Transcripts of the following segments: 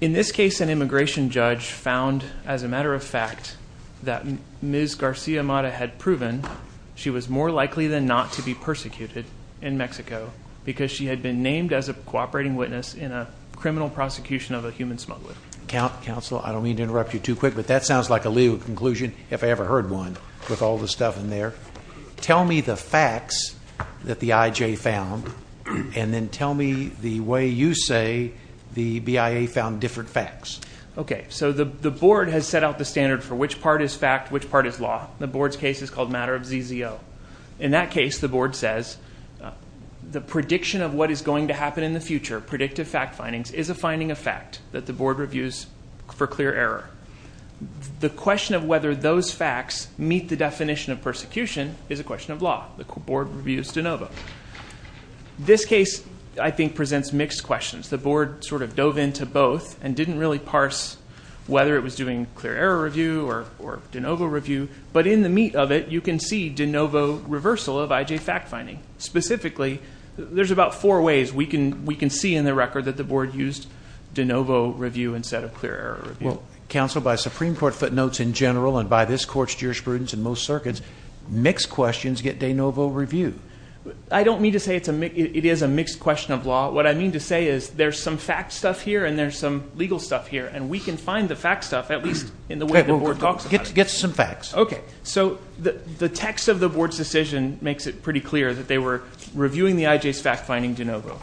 In this case, an immigration judge found, as a matter of fact, that Ms. Garcia-Mata had proven she was more likely than not to be persecuted in Mexico because she had been named as a cooperating witness in a criminal prosecution of a human smuggler. Counsel, I don't mean to interrupt you too quick, but that sounds like a legal conclusion, if I ever heard one, with all the stuff in there. Tell me the facts that the IJ found, and then tell me the way you say the BIA found different facts. Okay. So the board has set out the standard for which part is fact, which part is law. The board's case is called Matter of ZZO. In that case, the board says, the prediction of what is going to happen in the future, predictive fact findings, is a finding of fact that the board reviews for clear error. The question of whether those facts meet the definition of persecution is a question of law. The board reviews de novo. This case, I think, presents mixed questions. The board sort of dove into both and didn't really parse whether it was doing clear error review or de novo review, but in the meat of it, you can see de novo reversal of IJ fact finding. Specifically, there's about four ways we can see in the record that the board used de novo review instead of clear error review. Well, counsel, by Supreme Court footnotes in general and by this court's jurisprudence in most circuits, mixed questions get de novo review. I don't mean to say it is a mixed question of law. What I mean to say is there's some fact stuff here and there's some legal stuff here, and we can find the fact stuff, at least in the way the board talks about it. Get some facts. Okay. So the text of the board's decision makes it pretty clear that they were reviewing the IJ's fact finding de novo.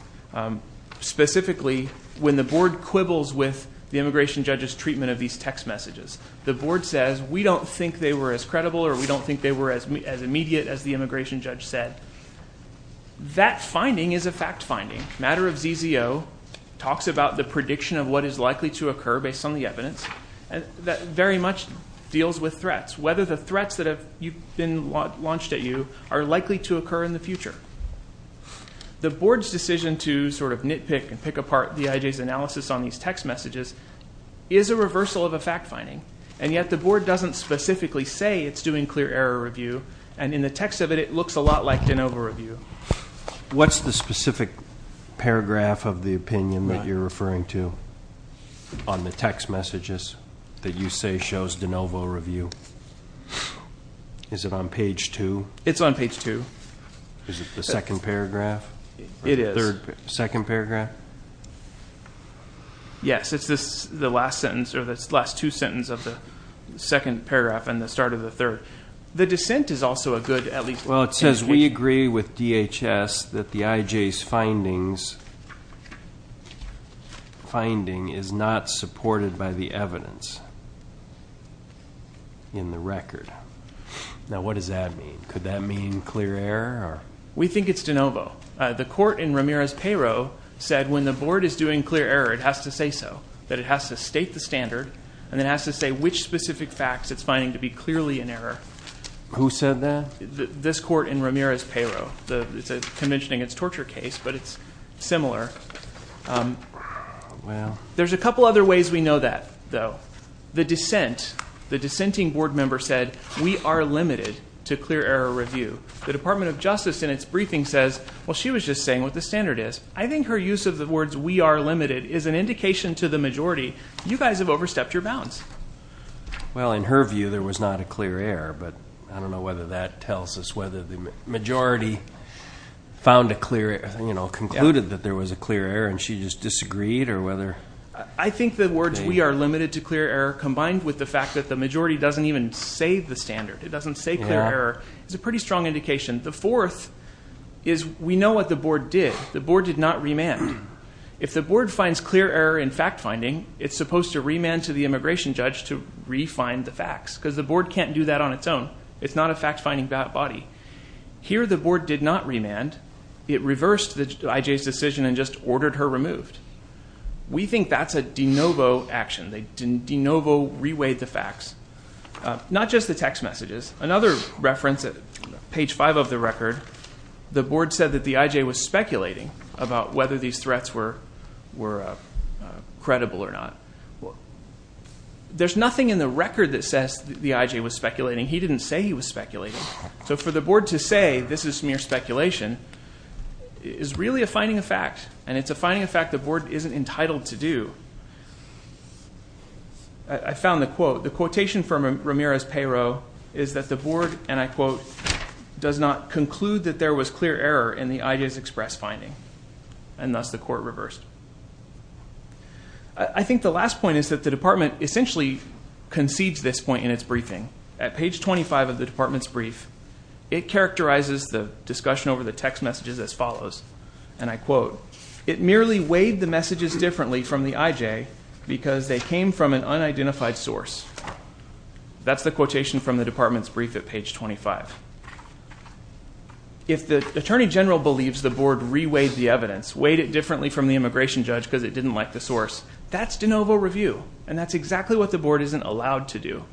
Specifically, when the board quibbles with the immigration judge's treatment of these text messages, the board says, we don't think they were as credible or we don't think they were as immediate as the immigration judge said. That finding is a fact finding. Matter of ZZO talks about the prediction of what is likely to occur based on the evidence that very much deals with threats, whether the threats that have been launched at you are likely to occur in the future. The board's decision to sort of nitpick and pick apart the IJ's analysis on these text messages is a reversal of a fact finding, and yet the board doesn't specifically say it's doing clear error review, and in the text of it, it looks a lot like de novo review. What's the specific paragraph of the opinion that you're referring to on the text messages that you say shows de novo review? Is it on page two? It's on page two. Is it the second paragraph? It is. Second paragraph? Yes. It's the last sentence, or the last two sentences of the second paragraph and the start of the third. The dissent is also a good at least indication. Well, it says, we agree with DHS that the IJ's finding is not supported by the evidence in the record. Now, what does that mean? Could that mean clear error? We think it's de novo. The court in Ramirez-Perot said when the board is doing clear error, it has to say so. That it has to state the standard, and it has to say which specific facts it's finding to be clearly in error. Who said that? This court in Ramirez-Perot. It's a convention against torture case, but it's similar. There's a couple other ways we know that, though. The dissent, the dissenting board member said, we are limited to clear error review. The Department of Justice in its briefing says, well, she was just saying what the standard is. I think her use of the words, we are limited, is an indication to the majority, you guys have overstepped your bounds. Well, in her view, there was not a clear error, but I don't know whether that tells us whether the majority found a clear error, you know, concluded that there was a clear error, and she just disagreed, or whether... I think the words, we are limited to clear error, combined with the fact that the majority doesn't even say the standard, it doesn't say clear error, is a pretty strong indication. The fourth is, we know what the board did. The board did not remand. If the board finds clear error in fact finding, it's supposed to remand to the immigration judge to re-find the facts, because the board can't do that on its own. It's not a fact-finding body. Here the board did not remand. It reversed the IJ's decision and just ordered her removed. We think that's a de novo action. They de novo reweighed the facts. Not just the text messages. Another reference, page five of the record, the board said that the IJ was speculating about whether these threats were credible or not. There's nothing in the record that says the IJ was speculating. He didn't say he was speculating. So for the board to say this is mere speculation is really a finding of fact, and it's a finding of fact the board isn't entitled to do. I found the quote. The quotation from Ramiro's payroll is that the board, and I quote, does not conclude that there was clear error in the IJ's express finding, and thus the court reversed. I think the last point is that the department essentially concedes this point in its briefing. At page 25 of the department's brief, it characterizes the discussion over the text messages as follows, and I quote, it merely weighed the messages differently from the IJ because they came from an unidentified source. That's the quotation from the department's brief at page 25. If the attorney general believes the board re-weighed the evidence, weighed it differently from the immigration judge because it didn't like the source, that's de novo review, and that's exactly what the board isn't allowed to do.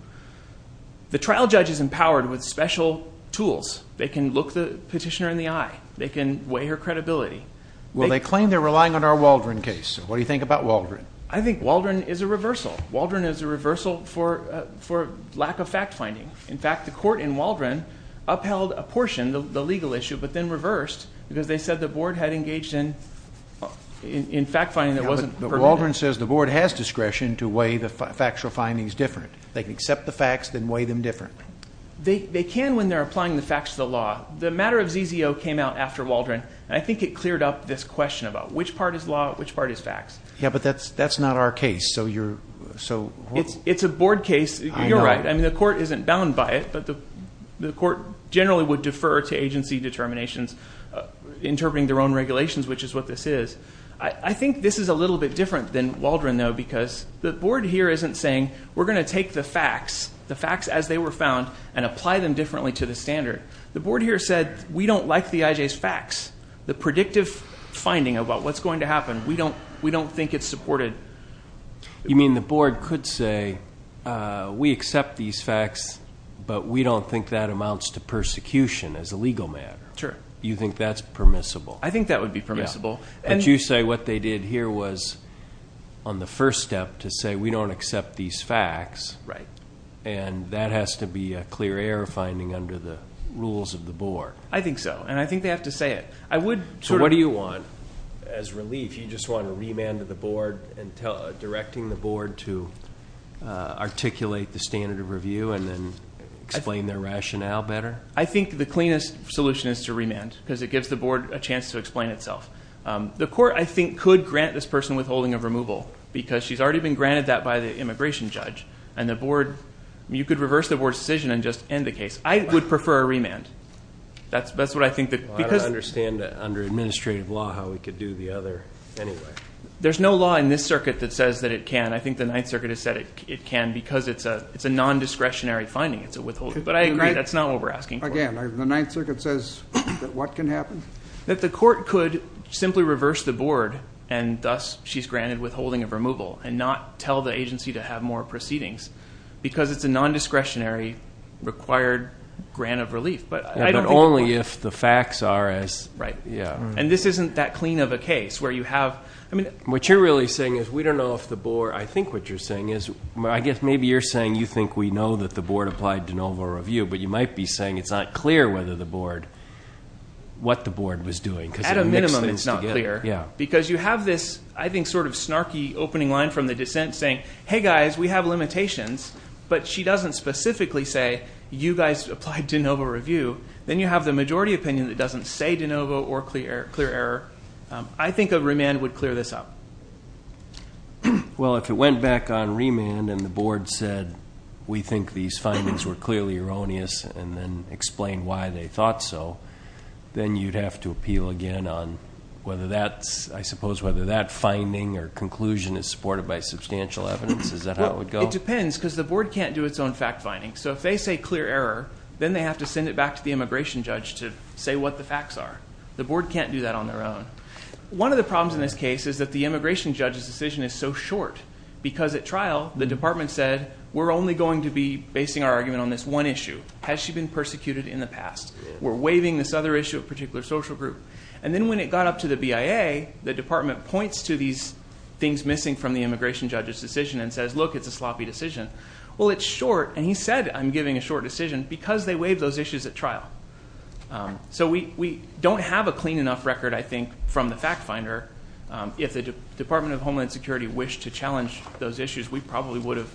The trial judge is empowered with special tools. They can look the petitioner in the eye. They can weigh her credibility. Well they claim they're relying on our Waldron case, so what do you think about Waldron? I think Waldron is a reversal. Waldron is a reversal for lack of fact-finding. In fact, the court in Waldron upheld a portion, the legal issue, but then reversed because they said the board had engaged in fact-finding that wasn't permitted. But Waldron says the board has discretion to weigh the factual findings differently. They can accept the facts, then weigh them differently. They can when they're applying the facts to the law. The matter of ZZO came out after Waldron, and I think it cleared up this question about which part is law, which part is facts. Yeah, but that's not our case, so you're, so. It's a board case, you're right. I mean, the court isn't bound by it, but the court generally would defer to agency determinations interpreting their own regulations, which is what this is. I think this is a little bit different than Waldron though, because the board here isn't saying we're going to take the facts, the facts as they were found, and apply them differently to the standard. The board here said we don't like the IJ's facts. The predictive finding about what's going to happen, we don't think it's supported. You mean the board could say we accept these facts, but we don't think that amounts to persecution as a legal matter. Sure. You think that's permissible? I think that would be permissible. But you say what they did here was on the first step to say we don't accept these facts. Right. And that has to be a clear air finding under the rules of the board. I think so, and I think they have to say it. I would- So what do you want as relief? You just want a remand to the board and directing the board to articulate the standard of review and then explain their rationale better? I think the cleanest solution is to remand, because it gives the board a chance to explain itself. The court, I think, could grant this person withholding of removal, because she's already been granted that by the immigration judge. And the board, you could reverse the board's decision and just end the case. I would prefer a remand. I don't understand that under administrative law, how we could do the other anyway. There's no law in this circuit that says that it can. I think the Ninth Circuit has said it can, because it's a non-discretionary finding. It's a withholding. But I agree, that's not what we're asking for. Again, the Ninth Circuit says that what can happen? That the court could simply reverse the board, and thus she's granted withholding of removal, and not tell the agency to have more proceedings, because it's a non-discretionary required grant of relief. But I don't think the board- But only if the facts are as- Right. Yeah. And this isn't that clean of a case, where you have, I mean- What you're really saying is, we don't know if the board, I think what you're saying is, I guess maybe you're saying you think we know that the board applied de novo review, but you might be saying it's not clear whether the board, what the board was doing, because it mixed things together. At a minimum, it's not clear. Yeah. Because you have this, I think, sort of snarky opening line from the dissent saying, hey guys, we have limitations. But she doesn't specifically say, you guys applied de novo review. Then you have the majority opinion that doesn't say de novo or clear error. I think a remand would clear this up. Well, if it went back on remand, and the board said, we think these findings were clearly erroneous, and then explained why they thought so, then you'd have to appeal again on whether that's, I suppose, whether that finding or conclusion is supported by substantial evidence. Is that how it would go? It depends, because the board can't do its own fact finding. So if they say clear error, then they have to send it back to the immigration judge to say what the facts are. The board can't do that on their own. One of the problems in this case is that the immigration judge's decision is so short. Because at trial, the department said, we're only going to be basing our argument on this one issue. Has she been persecuted in the past? We're waiving this other issue, a particular social group. And then when it got up to the BIA, the department points to these things missing from the immigration judge's decision and says, look, it's a sloppy decision, well, it's short, and he said, I'm giving a short decision because they waived those issues at trial. So we don't have a clean enough record, I think, from the fact finder. If the Department of Homeland Security wished to challenge those issues, we probably would have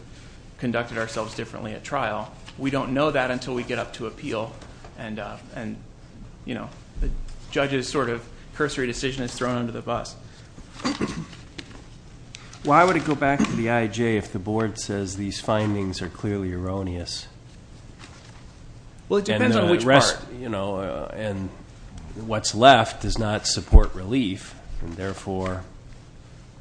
conducted ourselves differently at trial. We don't know that until we get up to appeal, and the judge's sort of cursory decision is thrown under the bus. Why would it go back to the IJ if the board says these findings are clearly erroneous? Well, it depends on which part. And what's left does not support relief, and therefore,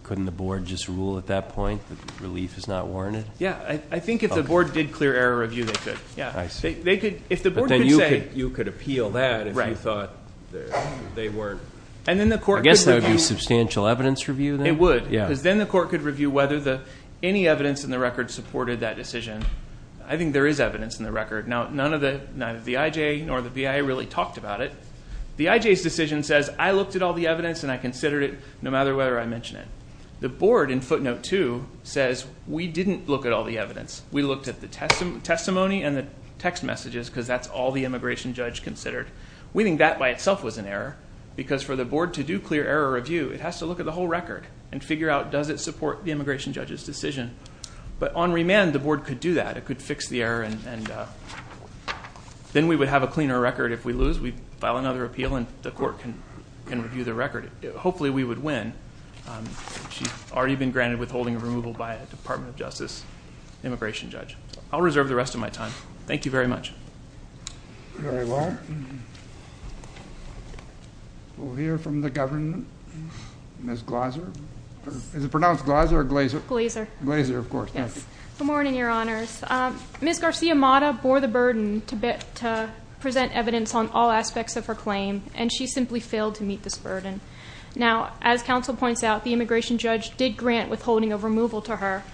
couldn't the board just rule at that point that relief is not warranted? Yeah, I think if the board did clear error review, they could. Yeah. I see. If the board could say- But then you could appeal that if you thought they weren't. And then the court could review- I guess that would be substantial evidence review, then? It would, because then the court could review whether any evidence in the record supported that decision. I think there is evidence in the record. Now, neither the IJ nor the BIA really talked about it. The IJ's decision says, I looked at all the evidence and I considered it, no matter whether I mention it. The board in footnote two says, we didn't look at all the evidence. We looked at the testimony and the text messages, because that's all the immigration judge considered. We think that by itself was an error, because for the board to do clear error review, it has to look at the whole record and figure out, does it support the immigration judge's decision? But on remand, the board could do that. It could fix the error, and then we would have a cleaner record. If we lose, we file another appeal and the court can review the record. Hopefully, we would win. She's already been granted withholding of removal by a Department of Justice immigration judge. I'll reserve the rest of my time. Thank you very much. Very well. We'll hear from the government, Ms. Glazer. Is it pronounced Glazer or Glazer? Glazer. Glazer, of course. Thank you. Good morning, your honors. Ms. Garcia-Mata bore the burden to present evidence on all aspects of her claim, and she simply failed to meet this burden. Now, as council points out, the immigration judge did grant withholding of removal to her.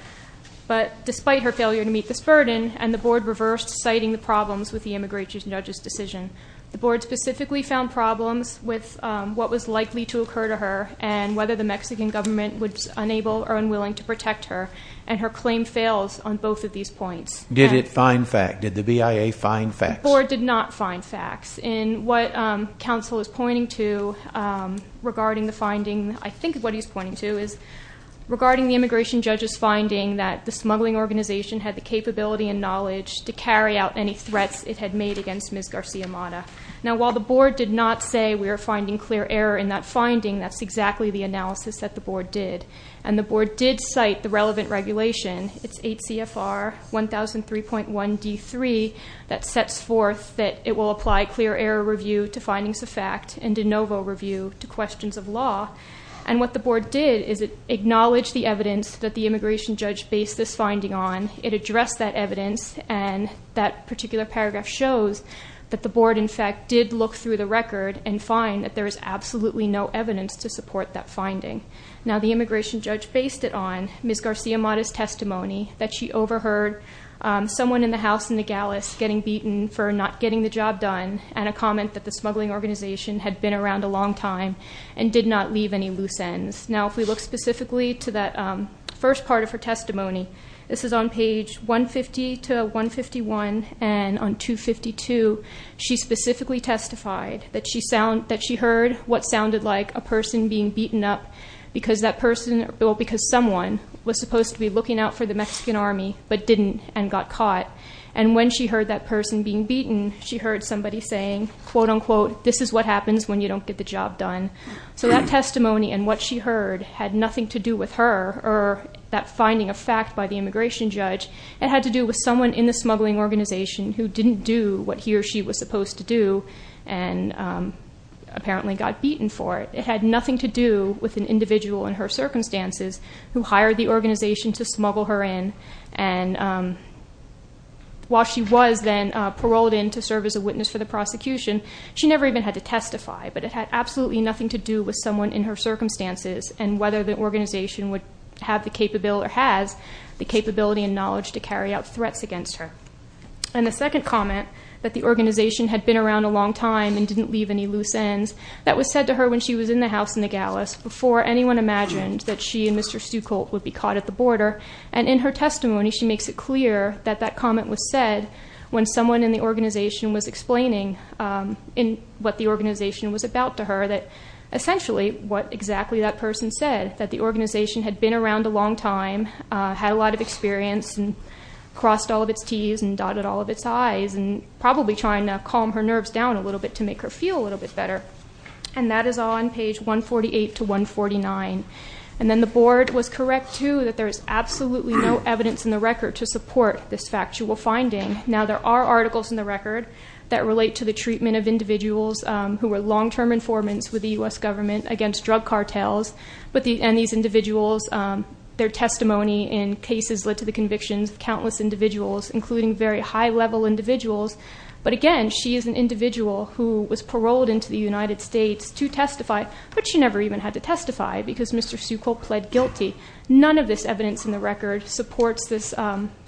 But despite her failure to meet this burden, and the board reversed citing the problems with the immigration judge's decision. The board specifically found problems with what was likely to occur to her, and whether the Mexican government was unable or unwilling to protect her, and her claim fails on both of these points. Did it find fact? Did the BIA find facts? The board did not find facts. In what council is pointing to regarding the finding, I think what he's pointing to is regarding the immigration judge's finding that the smuggling organization had the capability and knowledge to carry out any threats it had made against Ms. Garcia-Mata. Now, while the board did not say we are finding clear error in that finding, that's exactly the analysis that the board did. And the board did cite the relevant regulation, it's 8 CFR 1003.1 D3, that sets forth that it will apply clear error review to findings of fact, and de novo review to questions of law. And what the board did is it acknowledged the evidence that the immigration judge based this finding on. It addressed that evidence, and that particular paragraph shows that the board, in fact, did look through the record and find that there is absolutely no evidence to support that finding. Now, the immigration judge based it on Ms. Garcia-Mata's testimony that she overheard someone in the house in Nogales getting beaten for not getting the job done, and a comment that the smuggling organization had been around a long time and did not leave any loose ends. Now, if we look specifically to that first part of her testimony, this is on page 150 to 151 and on 252, she specifically testified that she heard what sounded like a person being beaten up. Because someone was supposed to be looking out for the Mexican army, but didn't and got caught. And when she heard that person being beaten, she heard somebody saying, quote unquote, this is what happens when you don't get the job done. So that testimony and what she heard had nothing to do with her or that finding of fact by the immigration judge. It had to do with someone in the smuggling organization who didn't do what he or she was supposed to do and apparently got beaten for it. But it had nothing to do with an individual in her circumstances who hired the organization to smuggle her in. And while she was then paroled in to serve as a witness for the prosecution, she never even had to testify. But it had absolutely nothing to do with someone in her circumstances and whether the organization would have the capability or has the capability and knowledge to carry out threats against her. And the second comment, that the organization had been around a long time and didn't leave any loose ends. That was said to her when she was in the house in the gallows before anyone imagined that she and Mr. Stueckle would be caught at the border. And in her testimony, she makes it clear that that comment was said when someone in the organization was explaining in what the organization was about to her that essentially what exactly that person said. That the organization had been around a long time, had a lot of experience and crossed all of its T's and dotted all of its I's. And probably trying to calm her nerves down a little bit to make her feel a little bit better. And that is all on page 148 to 149. And then the board was correct too that there is absolutely no evidence in the record to support this factual finding. Now there are articles in the record that relate to the treatment of individuals who were long term informants with the US government against drug cartels. And these individuals, their testimony in cases led to the convictions of countless individuals, including very high level individuals. But again, she is an individual who was paroled into the United States to testify. But she never even had to testify because Mr. Stueckle pled guilty. None of this evidence in the record supports this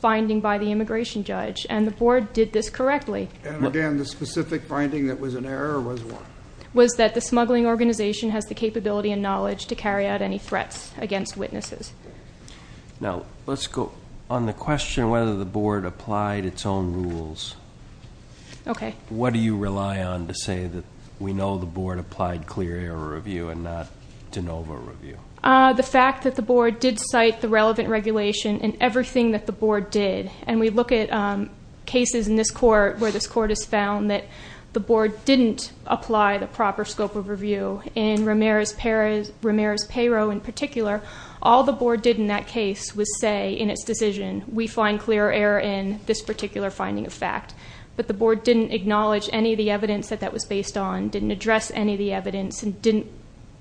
finding by the immigration judge. And the board did this correctly. And again, the specific finding that was an error was what? Was that the smuggling organization has the capability and knowledge to carry out any threats against witnesses. Now, let's go on the question whether the board applied its own rules. Okay. What do you rely on to say that we know the board applied clear error review and not de novo review? The fact that the board did cite the relevant regulation in everything that the board did. And we look at cases in this court where this court has found that the board didn't apply the proper scope of review. In Ramirez-Perot in particular, all the board did in that case was say, in its decision, we find clear error in this particular finding of fact. But the board didn't acknowledge any of the evidence that that was based on, didn't address any of the evidence, and didn't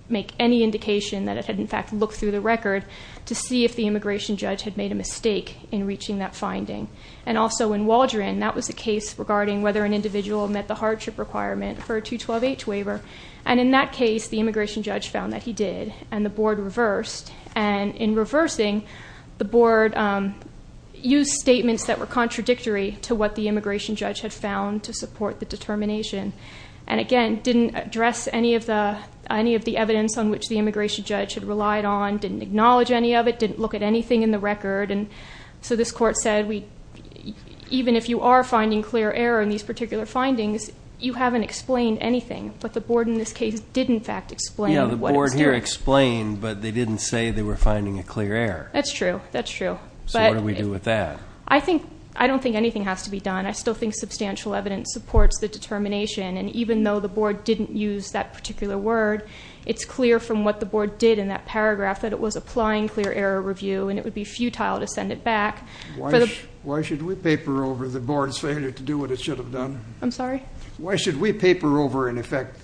make any indication that it had in fact looked through the record to see if the immigration judge had made a mistake in reaching that finding. And also in Waldron, that was a case regarding whether an individual met the hardship requirement for a 212H waiver. And in that case, the immigration judge found that he did, and the board reversed. And in reversing, the board used statements that were contradictory to what the immigration judge had found to support the determination. And again, didn't address any of the evidence on which the immigration judge had relied on, didn't acknowledge any of it, didn't look at anything in the record. And so this court said, even if you are finding clear error in these particular findings, you haven't explained anything. But the board in this case did in fact explain what it was doing. Yeah, the board here explained, but they didn't say they were finding a clear error. That's true, that's true. So what do we do with that? I don't think anything has to be done. I still think substantial evidence supports the determination. And even though the board didn't use that particular word, it's clear from what the board did in that paragraph that it was applying clear error review. And it would be futile to send it back. Why should we paper over the board's failure to do what it should have done? I'm sorry? Why should we paper over, in effect,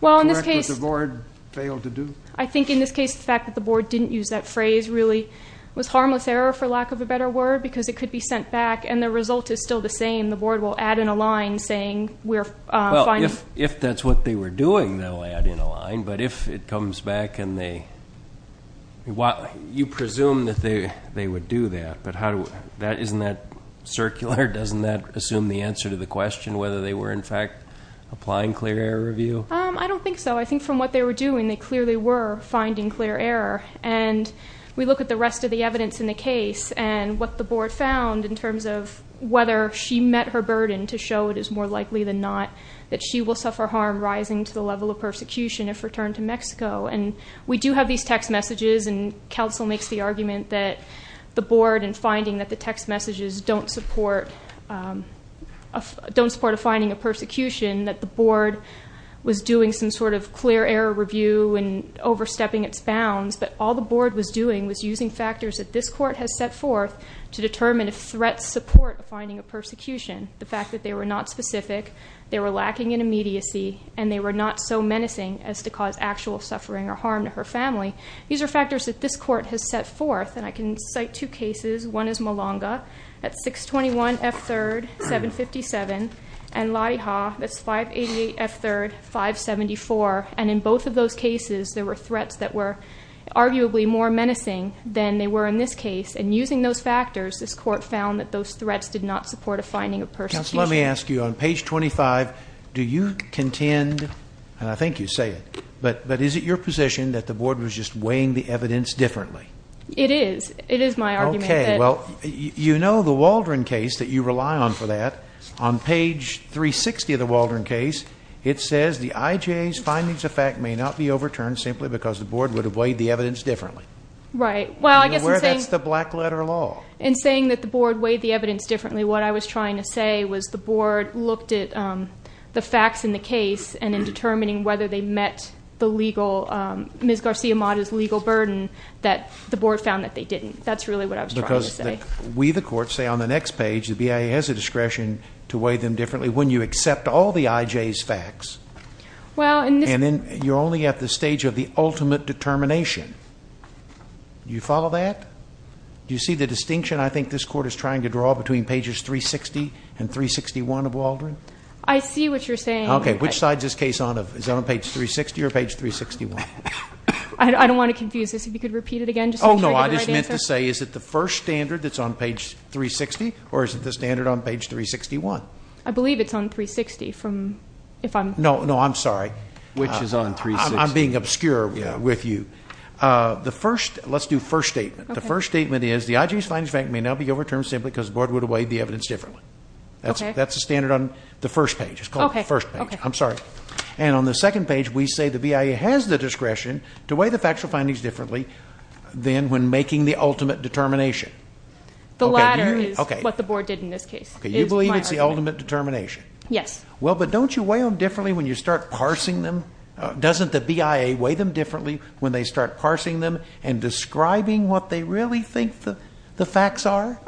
what the board failed to do? I think in this case, the fact that the board didn't use that phrase really was harmless error, for lack of a better word. Because it could be sent back, and the result is still the same. The board will add in a line saying we're finding- If that's what they were doing, they'll add in a line. But if it comes back and they, you presume that they would do that. But isn't that circular? Doesn't that assume the answer to the question, whether they were, in fact, applying clear error review? I don't think so. I think from what they were doing, they clearly were finding clear error. And we look at the rest of the evidence in the case, and what the board found in terms of whether she met her burden to show it is more likely than not that she will suffer harm rising to the level of persecution if returned to Mexico. And we do have these text messages, and council makes the argument that the board, in finding that the text messages don't support a finding of persecution, that the board was doing some sort of clear error review and overstepping its bounds. But all the board was doing was using factors that this court has set forth to determine if threats support finding a persecution. The fact that they were not specific, they were lacking in immediacy, and they were not so menacing as to cause actual suffering or harm to her family. These are factors that this court has set forth, and I can cite two cases. One is Malanga, that's 621 F3rd 757, and Lottie Ha, that's 588 F3rd 574. And in both of those cases, there were threats that were arguably more menacing than they were in this case. And using those factors, this court found that those threats did not support a finding of persecution. Council, let me ask you, on page 25, do you contend, and I think you say it, but is it your position that the board was just weighing the evidence differently? It is. It is my argument that- Okay, well, you know the Waldron case that you rely on for that. On page 360 of the Waldron case, it says the IJA's findings of fact may not be overturned simply because the board would have weighed the evidence differently. Right, well I guess I'm saying- That's the black letter law. In saying that the board weighed the evidence differently, what I was trying to say was the board looked at the facts in the case and in determining whether they met the legal, Ms. Garcia-Mata's legal burden, that the board found that they didn't. That's really what I was trying to say. We, the court, say on the next page, the BIA has a discretion to weigh them differently when you accept all the IJA's facts. And then you're only at the stage of the ultimate determination. Do you follow that? Do you see the distinction I think this court is trying to draw between pages 360 and 361 of Waldron? I see what you're saying. Okay, which side's this case on? Is it on page 360 or page 361? I don't want to confuse this. If you could repeat it again just so I can get the right answer. No, I just meant to say, is it the first standard that's on page 360 or is it the standard on page 361? I believe it's on 360 from, if I'm- No, no, I'm sorry. Which is on 360. I'm being obscure with you. The first, let's do first statement. The first statement is the IJA's findings may now be overturned simply because the board would have weighed the evidence differently. That's the standard on the first page. It's called the first page. I'm sorry. And on the second page, we say the BIA has the discretion to weigh the factual findings differently than when making the ultimate determination. The latter is what the board did in this case. Okay, you believe it's the ultimate determination? Yes. Well, but don't you weigh them differently when you start parsing them? Doesn't the BIA weigh them differently when they start parsing them and describing what they really think the facts are?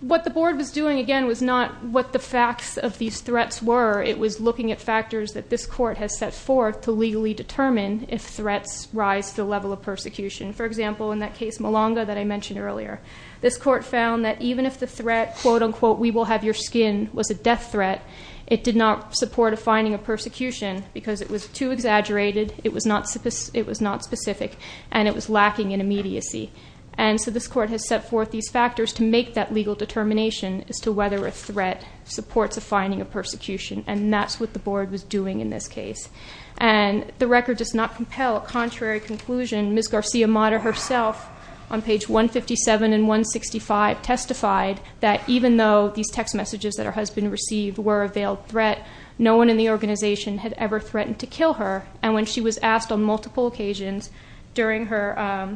What the board was doing, again, was not what the facts of these threats were. It was looking at factors that this court has set forth to legally determine if threats rise to the level of persecution. For example, in that case, Malonga, that I mentioned earlier. This court found that even if the threat, quote unquote, we will have your skin, was a death threat, it did not support a finding of persecution because it was too exaggerated, it was not specific, and it was lacking in immediacy. And so this court has set forth these factors to make that legal determination as to whether a threat supports a finding of persecution. And that's what the board was doing in this case. And the record does not compel a contrary conclusion. Ms. Garcia-Mata herself on page 157 and 165 testified that even though these text messages that her husband received were a veiled threat, no one in the organization had ever threatened to kill her. And when she was asked on multiple occasions during her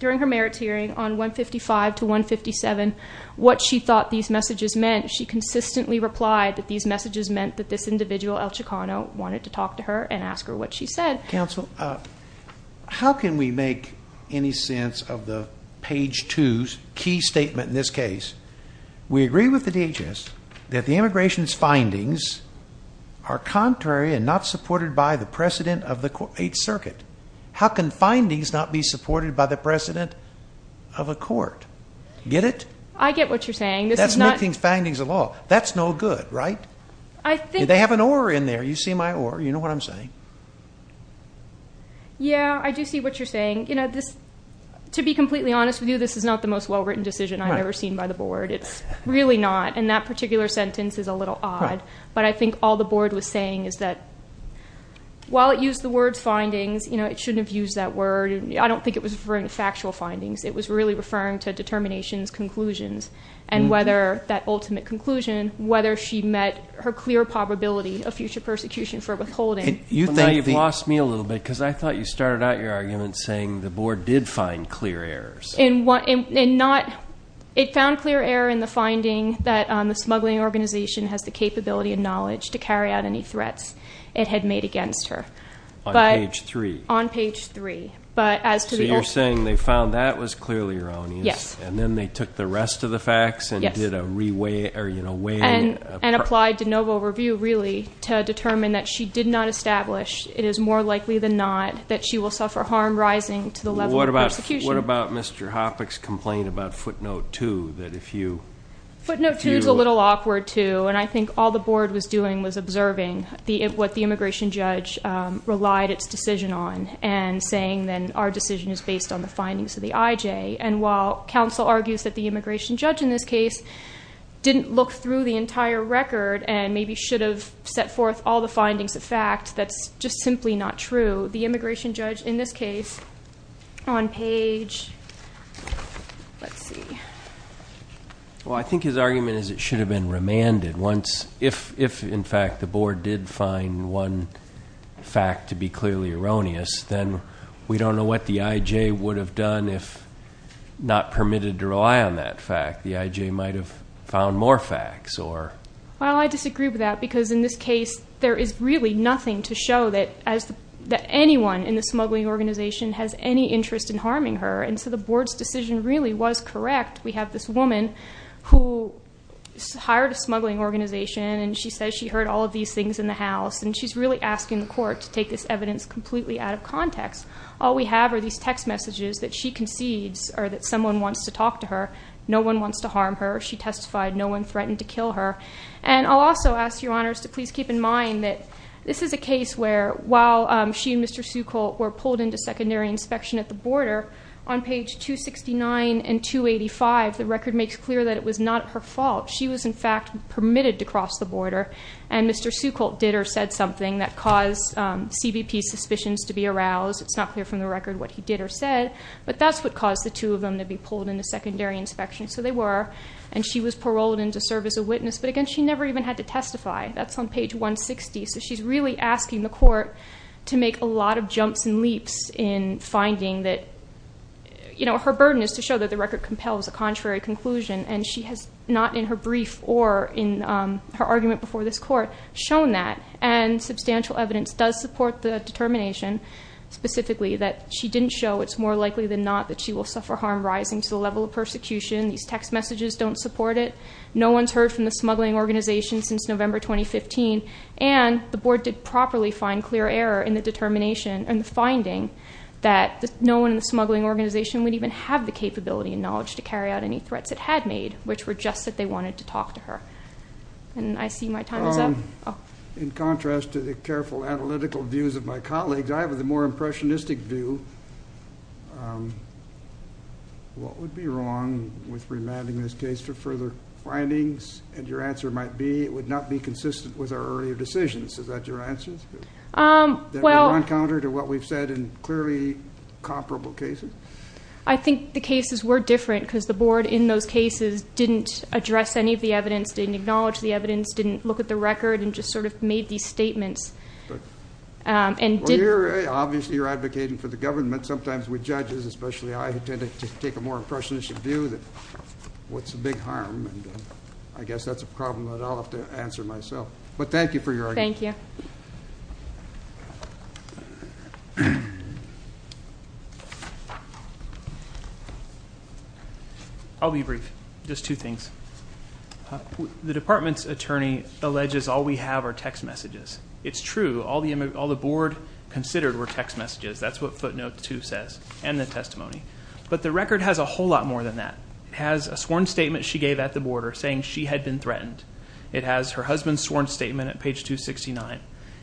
merits hearing on 155 to 157 what she thought these messages meant, she consistently replied that these messages meant that this individual, El Chicano, wanted to talk to her and ask her what she said. Counsel, how can we make any sense of the page two's key statement in this case? We agree with the DHS that the immigration's findings are contrary and not supported by the precedent of the court, a circuit. How can findings not be supported by the precedent of a court? Get it? I get what you're saying. That's making findings of law. That's no good, right? I think- They have an or in there. You see my or. You know what I'm saying? Yeah, I do see what you're saying. You know, to be completely honest with you, this is not the most well-written decision I've ever seen by the board. It's really not. And that particular sentence is a little odd. But I think all the board was saying is that while it used the word findings, it shouldn't have used that word. I don't think it was referring to factual findings. It was really referring to determinations, conclusions. And whether that ultimate conclusion, whether she met her clear probability of future persecution for withholding. You've lost me a little bit, because I thought you started out your argument saying the board did find clear errors. It found clear error in the finding that the smuggling organization has the capability and knowledge to carry out any threats it had made against her. On page three. On page three. But as to the- So you're saying they found that was clearly erroneous. Yes. And then they took the rest of the facts and did a re-weigh, or you know, weighing. And applied de novo review, really, to determine that she did not establish, it is more likely than not, that she will suffer harm rising to the level of persecution. What about Mr. Hoppeck's complaint about footnote two, that if you- Footnote two's a little awkward too, and I think all the board was doing was observing what the immigration judge relied its decision on, and saying then our decision is based on the findings of the IJ. And while counsel argues that the immigration judge in this case didn't look through the entire record, and maybe should have set forth all the findings of fact, that's just simply not true. The immigration judge in this case, on page, let's see. Well, I think his argument is it should have been remanded once. If, in fact, the board did find one fact to be clearly erroneous, then we don't know what the IJ would have done if not permitted to rely on that fact. The IJ might have found more facts, or- Well, I disagree with that, because in this case, there is really nothing to show that anyone in the smuggling organization has any interest in harming her, and so the board's decision really was correct. We have this woman who hired a smuggling organization, and she says she heard all of these things in the house. And she's really asking the court to take this evidence completely out of context. All we have are these text messages that she concedes, or that someone wants to talk to her. No one wants to harm her. She testified, no one threatened to kill her. And I'll also ask your honors to please keep in mind that this is a case where, while she and Mr. Seucolt were pulled into secondary inspection at the border. On page 269 and 285, the record makes clear that it was not her fault. She was in fact permitted to cross the border. And Mr. Seucolt did or said something that caused CBP's suspicions to be aroused. It's not clear from the record what he did or said, but that's what caused the two of them to be pulled into secondary inspection. So they were, and she was paroled in to serve as a witness, but again, she never even had to testify. That's on page 160, so she's really asking the court to make a lot of jumps and leaps in finding that her burden is to show that the record compels a contrary conclusion. And she has not in her brief or in her argument before this court shown that. And substantial evidence does support the determination specifically that she didn't show it's more likely than not that she will suffer harm rising to the level of persecution. These text messages don't support it. No one's heard from the smuggling organization since November 2015. And the board did properly find clear error in the determination and finding that no one in the smuggling organization would even have the capability and knowledge to carry out any threats it had made, which were just that they wanted to talk to her. And I see my time is up. In contrast to the careful analytical views of my colleagues, I have a more impressionistic view. What would be wrong with remanding this case for further findings? And your answer might be, it would not be consistent with our earlier decisions. Is that your answer? Well- That we're on counter to what we've said in clearly comparable cases? I think the cases were different because the board in those cases didn't address any of the evidence, didn't acknowledge the evidence, didn't look at the record, and just sort of made these statements. And didn't- Well, obviously you're advocating for the government. Sometimes with judges, especially I, who tend to take a more impressionistic view that what's the big harm? I guess that's a problem that I'll have to answer myself. But thank you for your argument. Thank you. I'll be brief, just two things. The department's attorney alleges all we have are text messages. It's true, all the board considered were text messages. That's what footnote two says, and the testimony. But the record has a whole lot more than that. It has a sworn statement she gave at the border saying she had been threatened. It has her husband's sworn statement at page 269.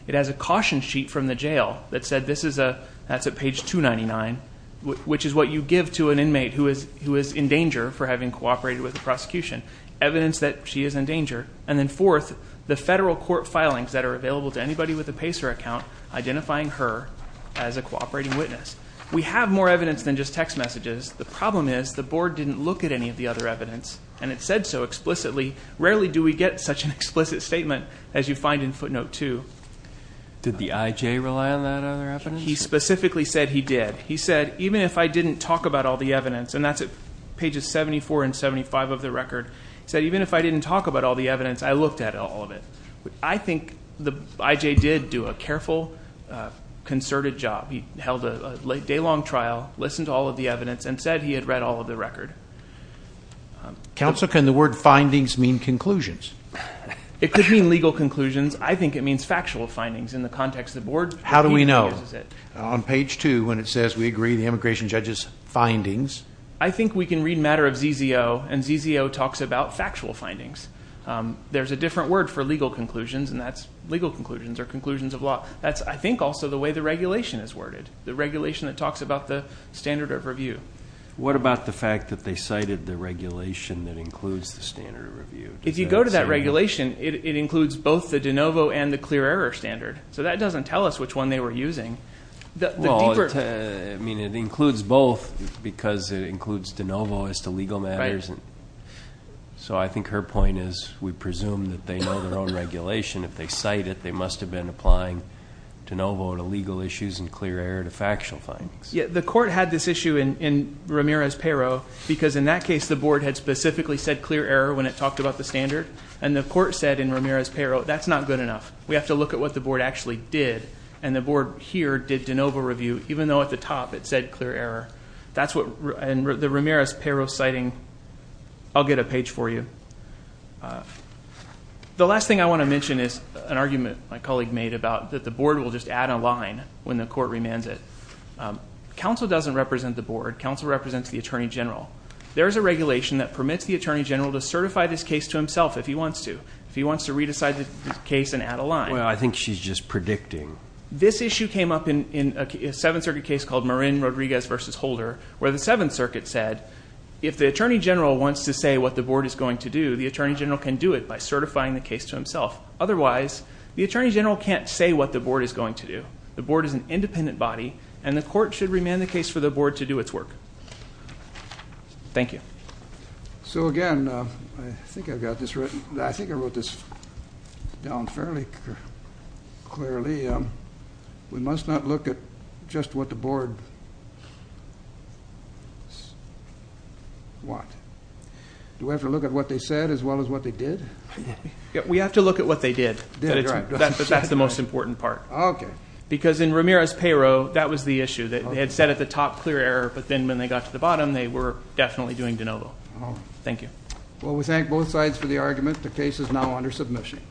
It has a caution sheet from the jail that said this is a, that's at page 299, which is what you give to an inmate who is in danger for having cooperated with the prosecution. Evidence that she is in danger. And then fourth, the federal court filings that are available to anybody with a PACER account identifying her as a cooperating witness. We have more evidence than just text messages. The problem is the board didn't look at any of the other evidence, and it said so explicitly. Rarely do we get such an explicit statement as you find in footnote two. Did the IJ rely on that other evidence? He specifically said he did. He said, even if I didn't talk about all the evidence, and that's at pages 74 and 75 of the record. He said, even if I didn't talk about all the evidence, I looked at all of it. I think the IJ did do a careful, concerted job. He held a day-long trial, listened to all of the evidence, and said he had read all of the record. Counsel, can the word findings mean conclusions? It could mean legal conclusions. I think it means factual findings in the context of the board. How do we know? On page two, when it says we agree the immigration judge's findings. I think we can read matter of ZZO, and ZZO talks about factual findings. There's a different word for legal conclusions, and that's legal conclusions or conclusions of law. That's, I think, also the way the regulation is worded, the regulation that talks about the standard of review. What about the fact that they cited the regulation that includes the standard of review? If you go to that regulation, it includes both the de novo and the clear error standard. So that doesn't tell us which one they were using. The deeper- I mean, it includes both because it includes de novo as to legal matters. Right. So I think her point is, we presume that they know their own regulation. If they cite it, they must have been applying de novo to legal issues and clear error to factual findings. Yeah, the court had this issue in Ramirez-Pero, because in that case, the board had specifically said clear error when it talked about the standard. And the court said in Ramirez-Pero, that's not good enough. We have to look at what the board actually did. And the board here did de novo review, even though at the top it said clear error. That's what, and the Ramirez-Pero citing, I'll get a page for you. The last thing I want to mention is an argument my colleague made about that the board will just add a line when the court remands it. Counsel doesn't represent the board. Counsel represents the attorney general. There is a regulation that permits the attorney general to certify this case to himself if he wants to, if he wants to re-decide the case and add a line. Well, I think she's just predicting. This issue came up in a Seventh Circuit case called Marin-Rodriguez v. Holder, where the Seventh Circuit said, if the attorney general wants to say what the board is going to do, the attorney general can do it by certifying the case to himself. Otherwise, the attorney general can't say what the board is going to do. The board is an independent body, and the court should remand the case for the board to do its work. Thank you. So, again, I think I've got this written. I think I wrote this down fairly clearly. We must not look at just what the board want. Do we have to look at what they said as well as what they did? We have to look at what they did. That's the most important part. Okay. Because in Ramirez-Pero, that was the issue. They had said at the top, clear error, but then when they got to the bottom, they were definitely doing de novo. Thank you. Well, we thank both sides for the argument. The case is now under submission.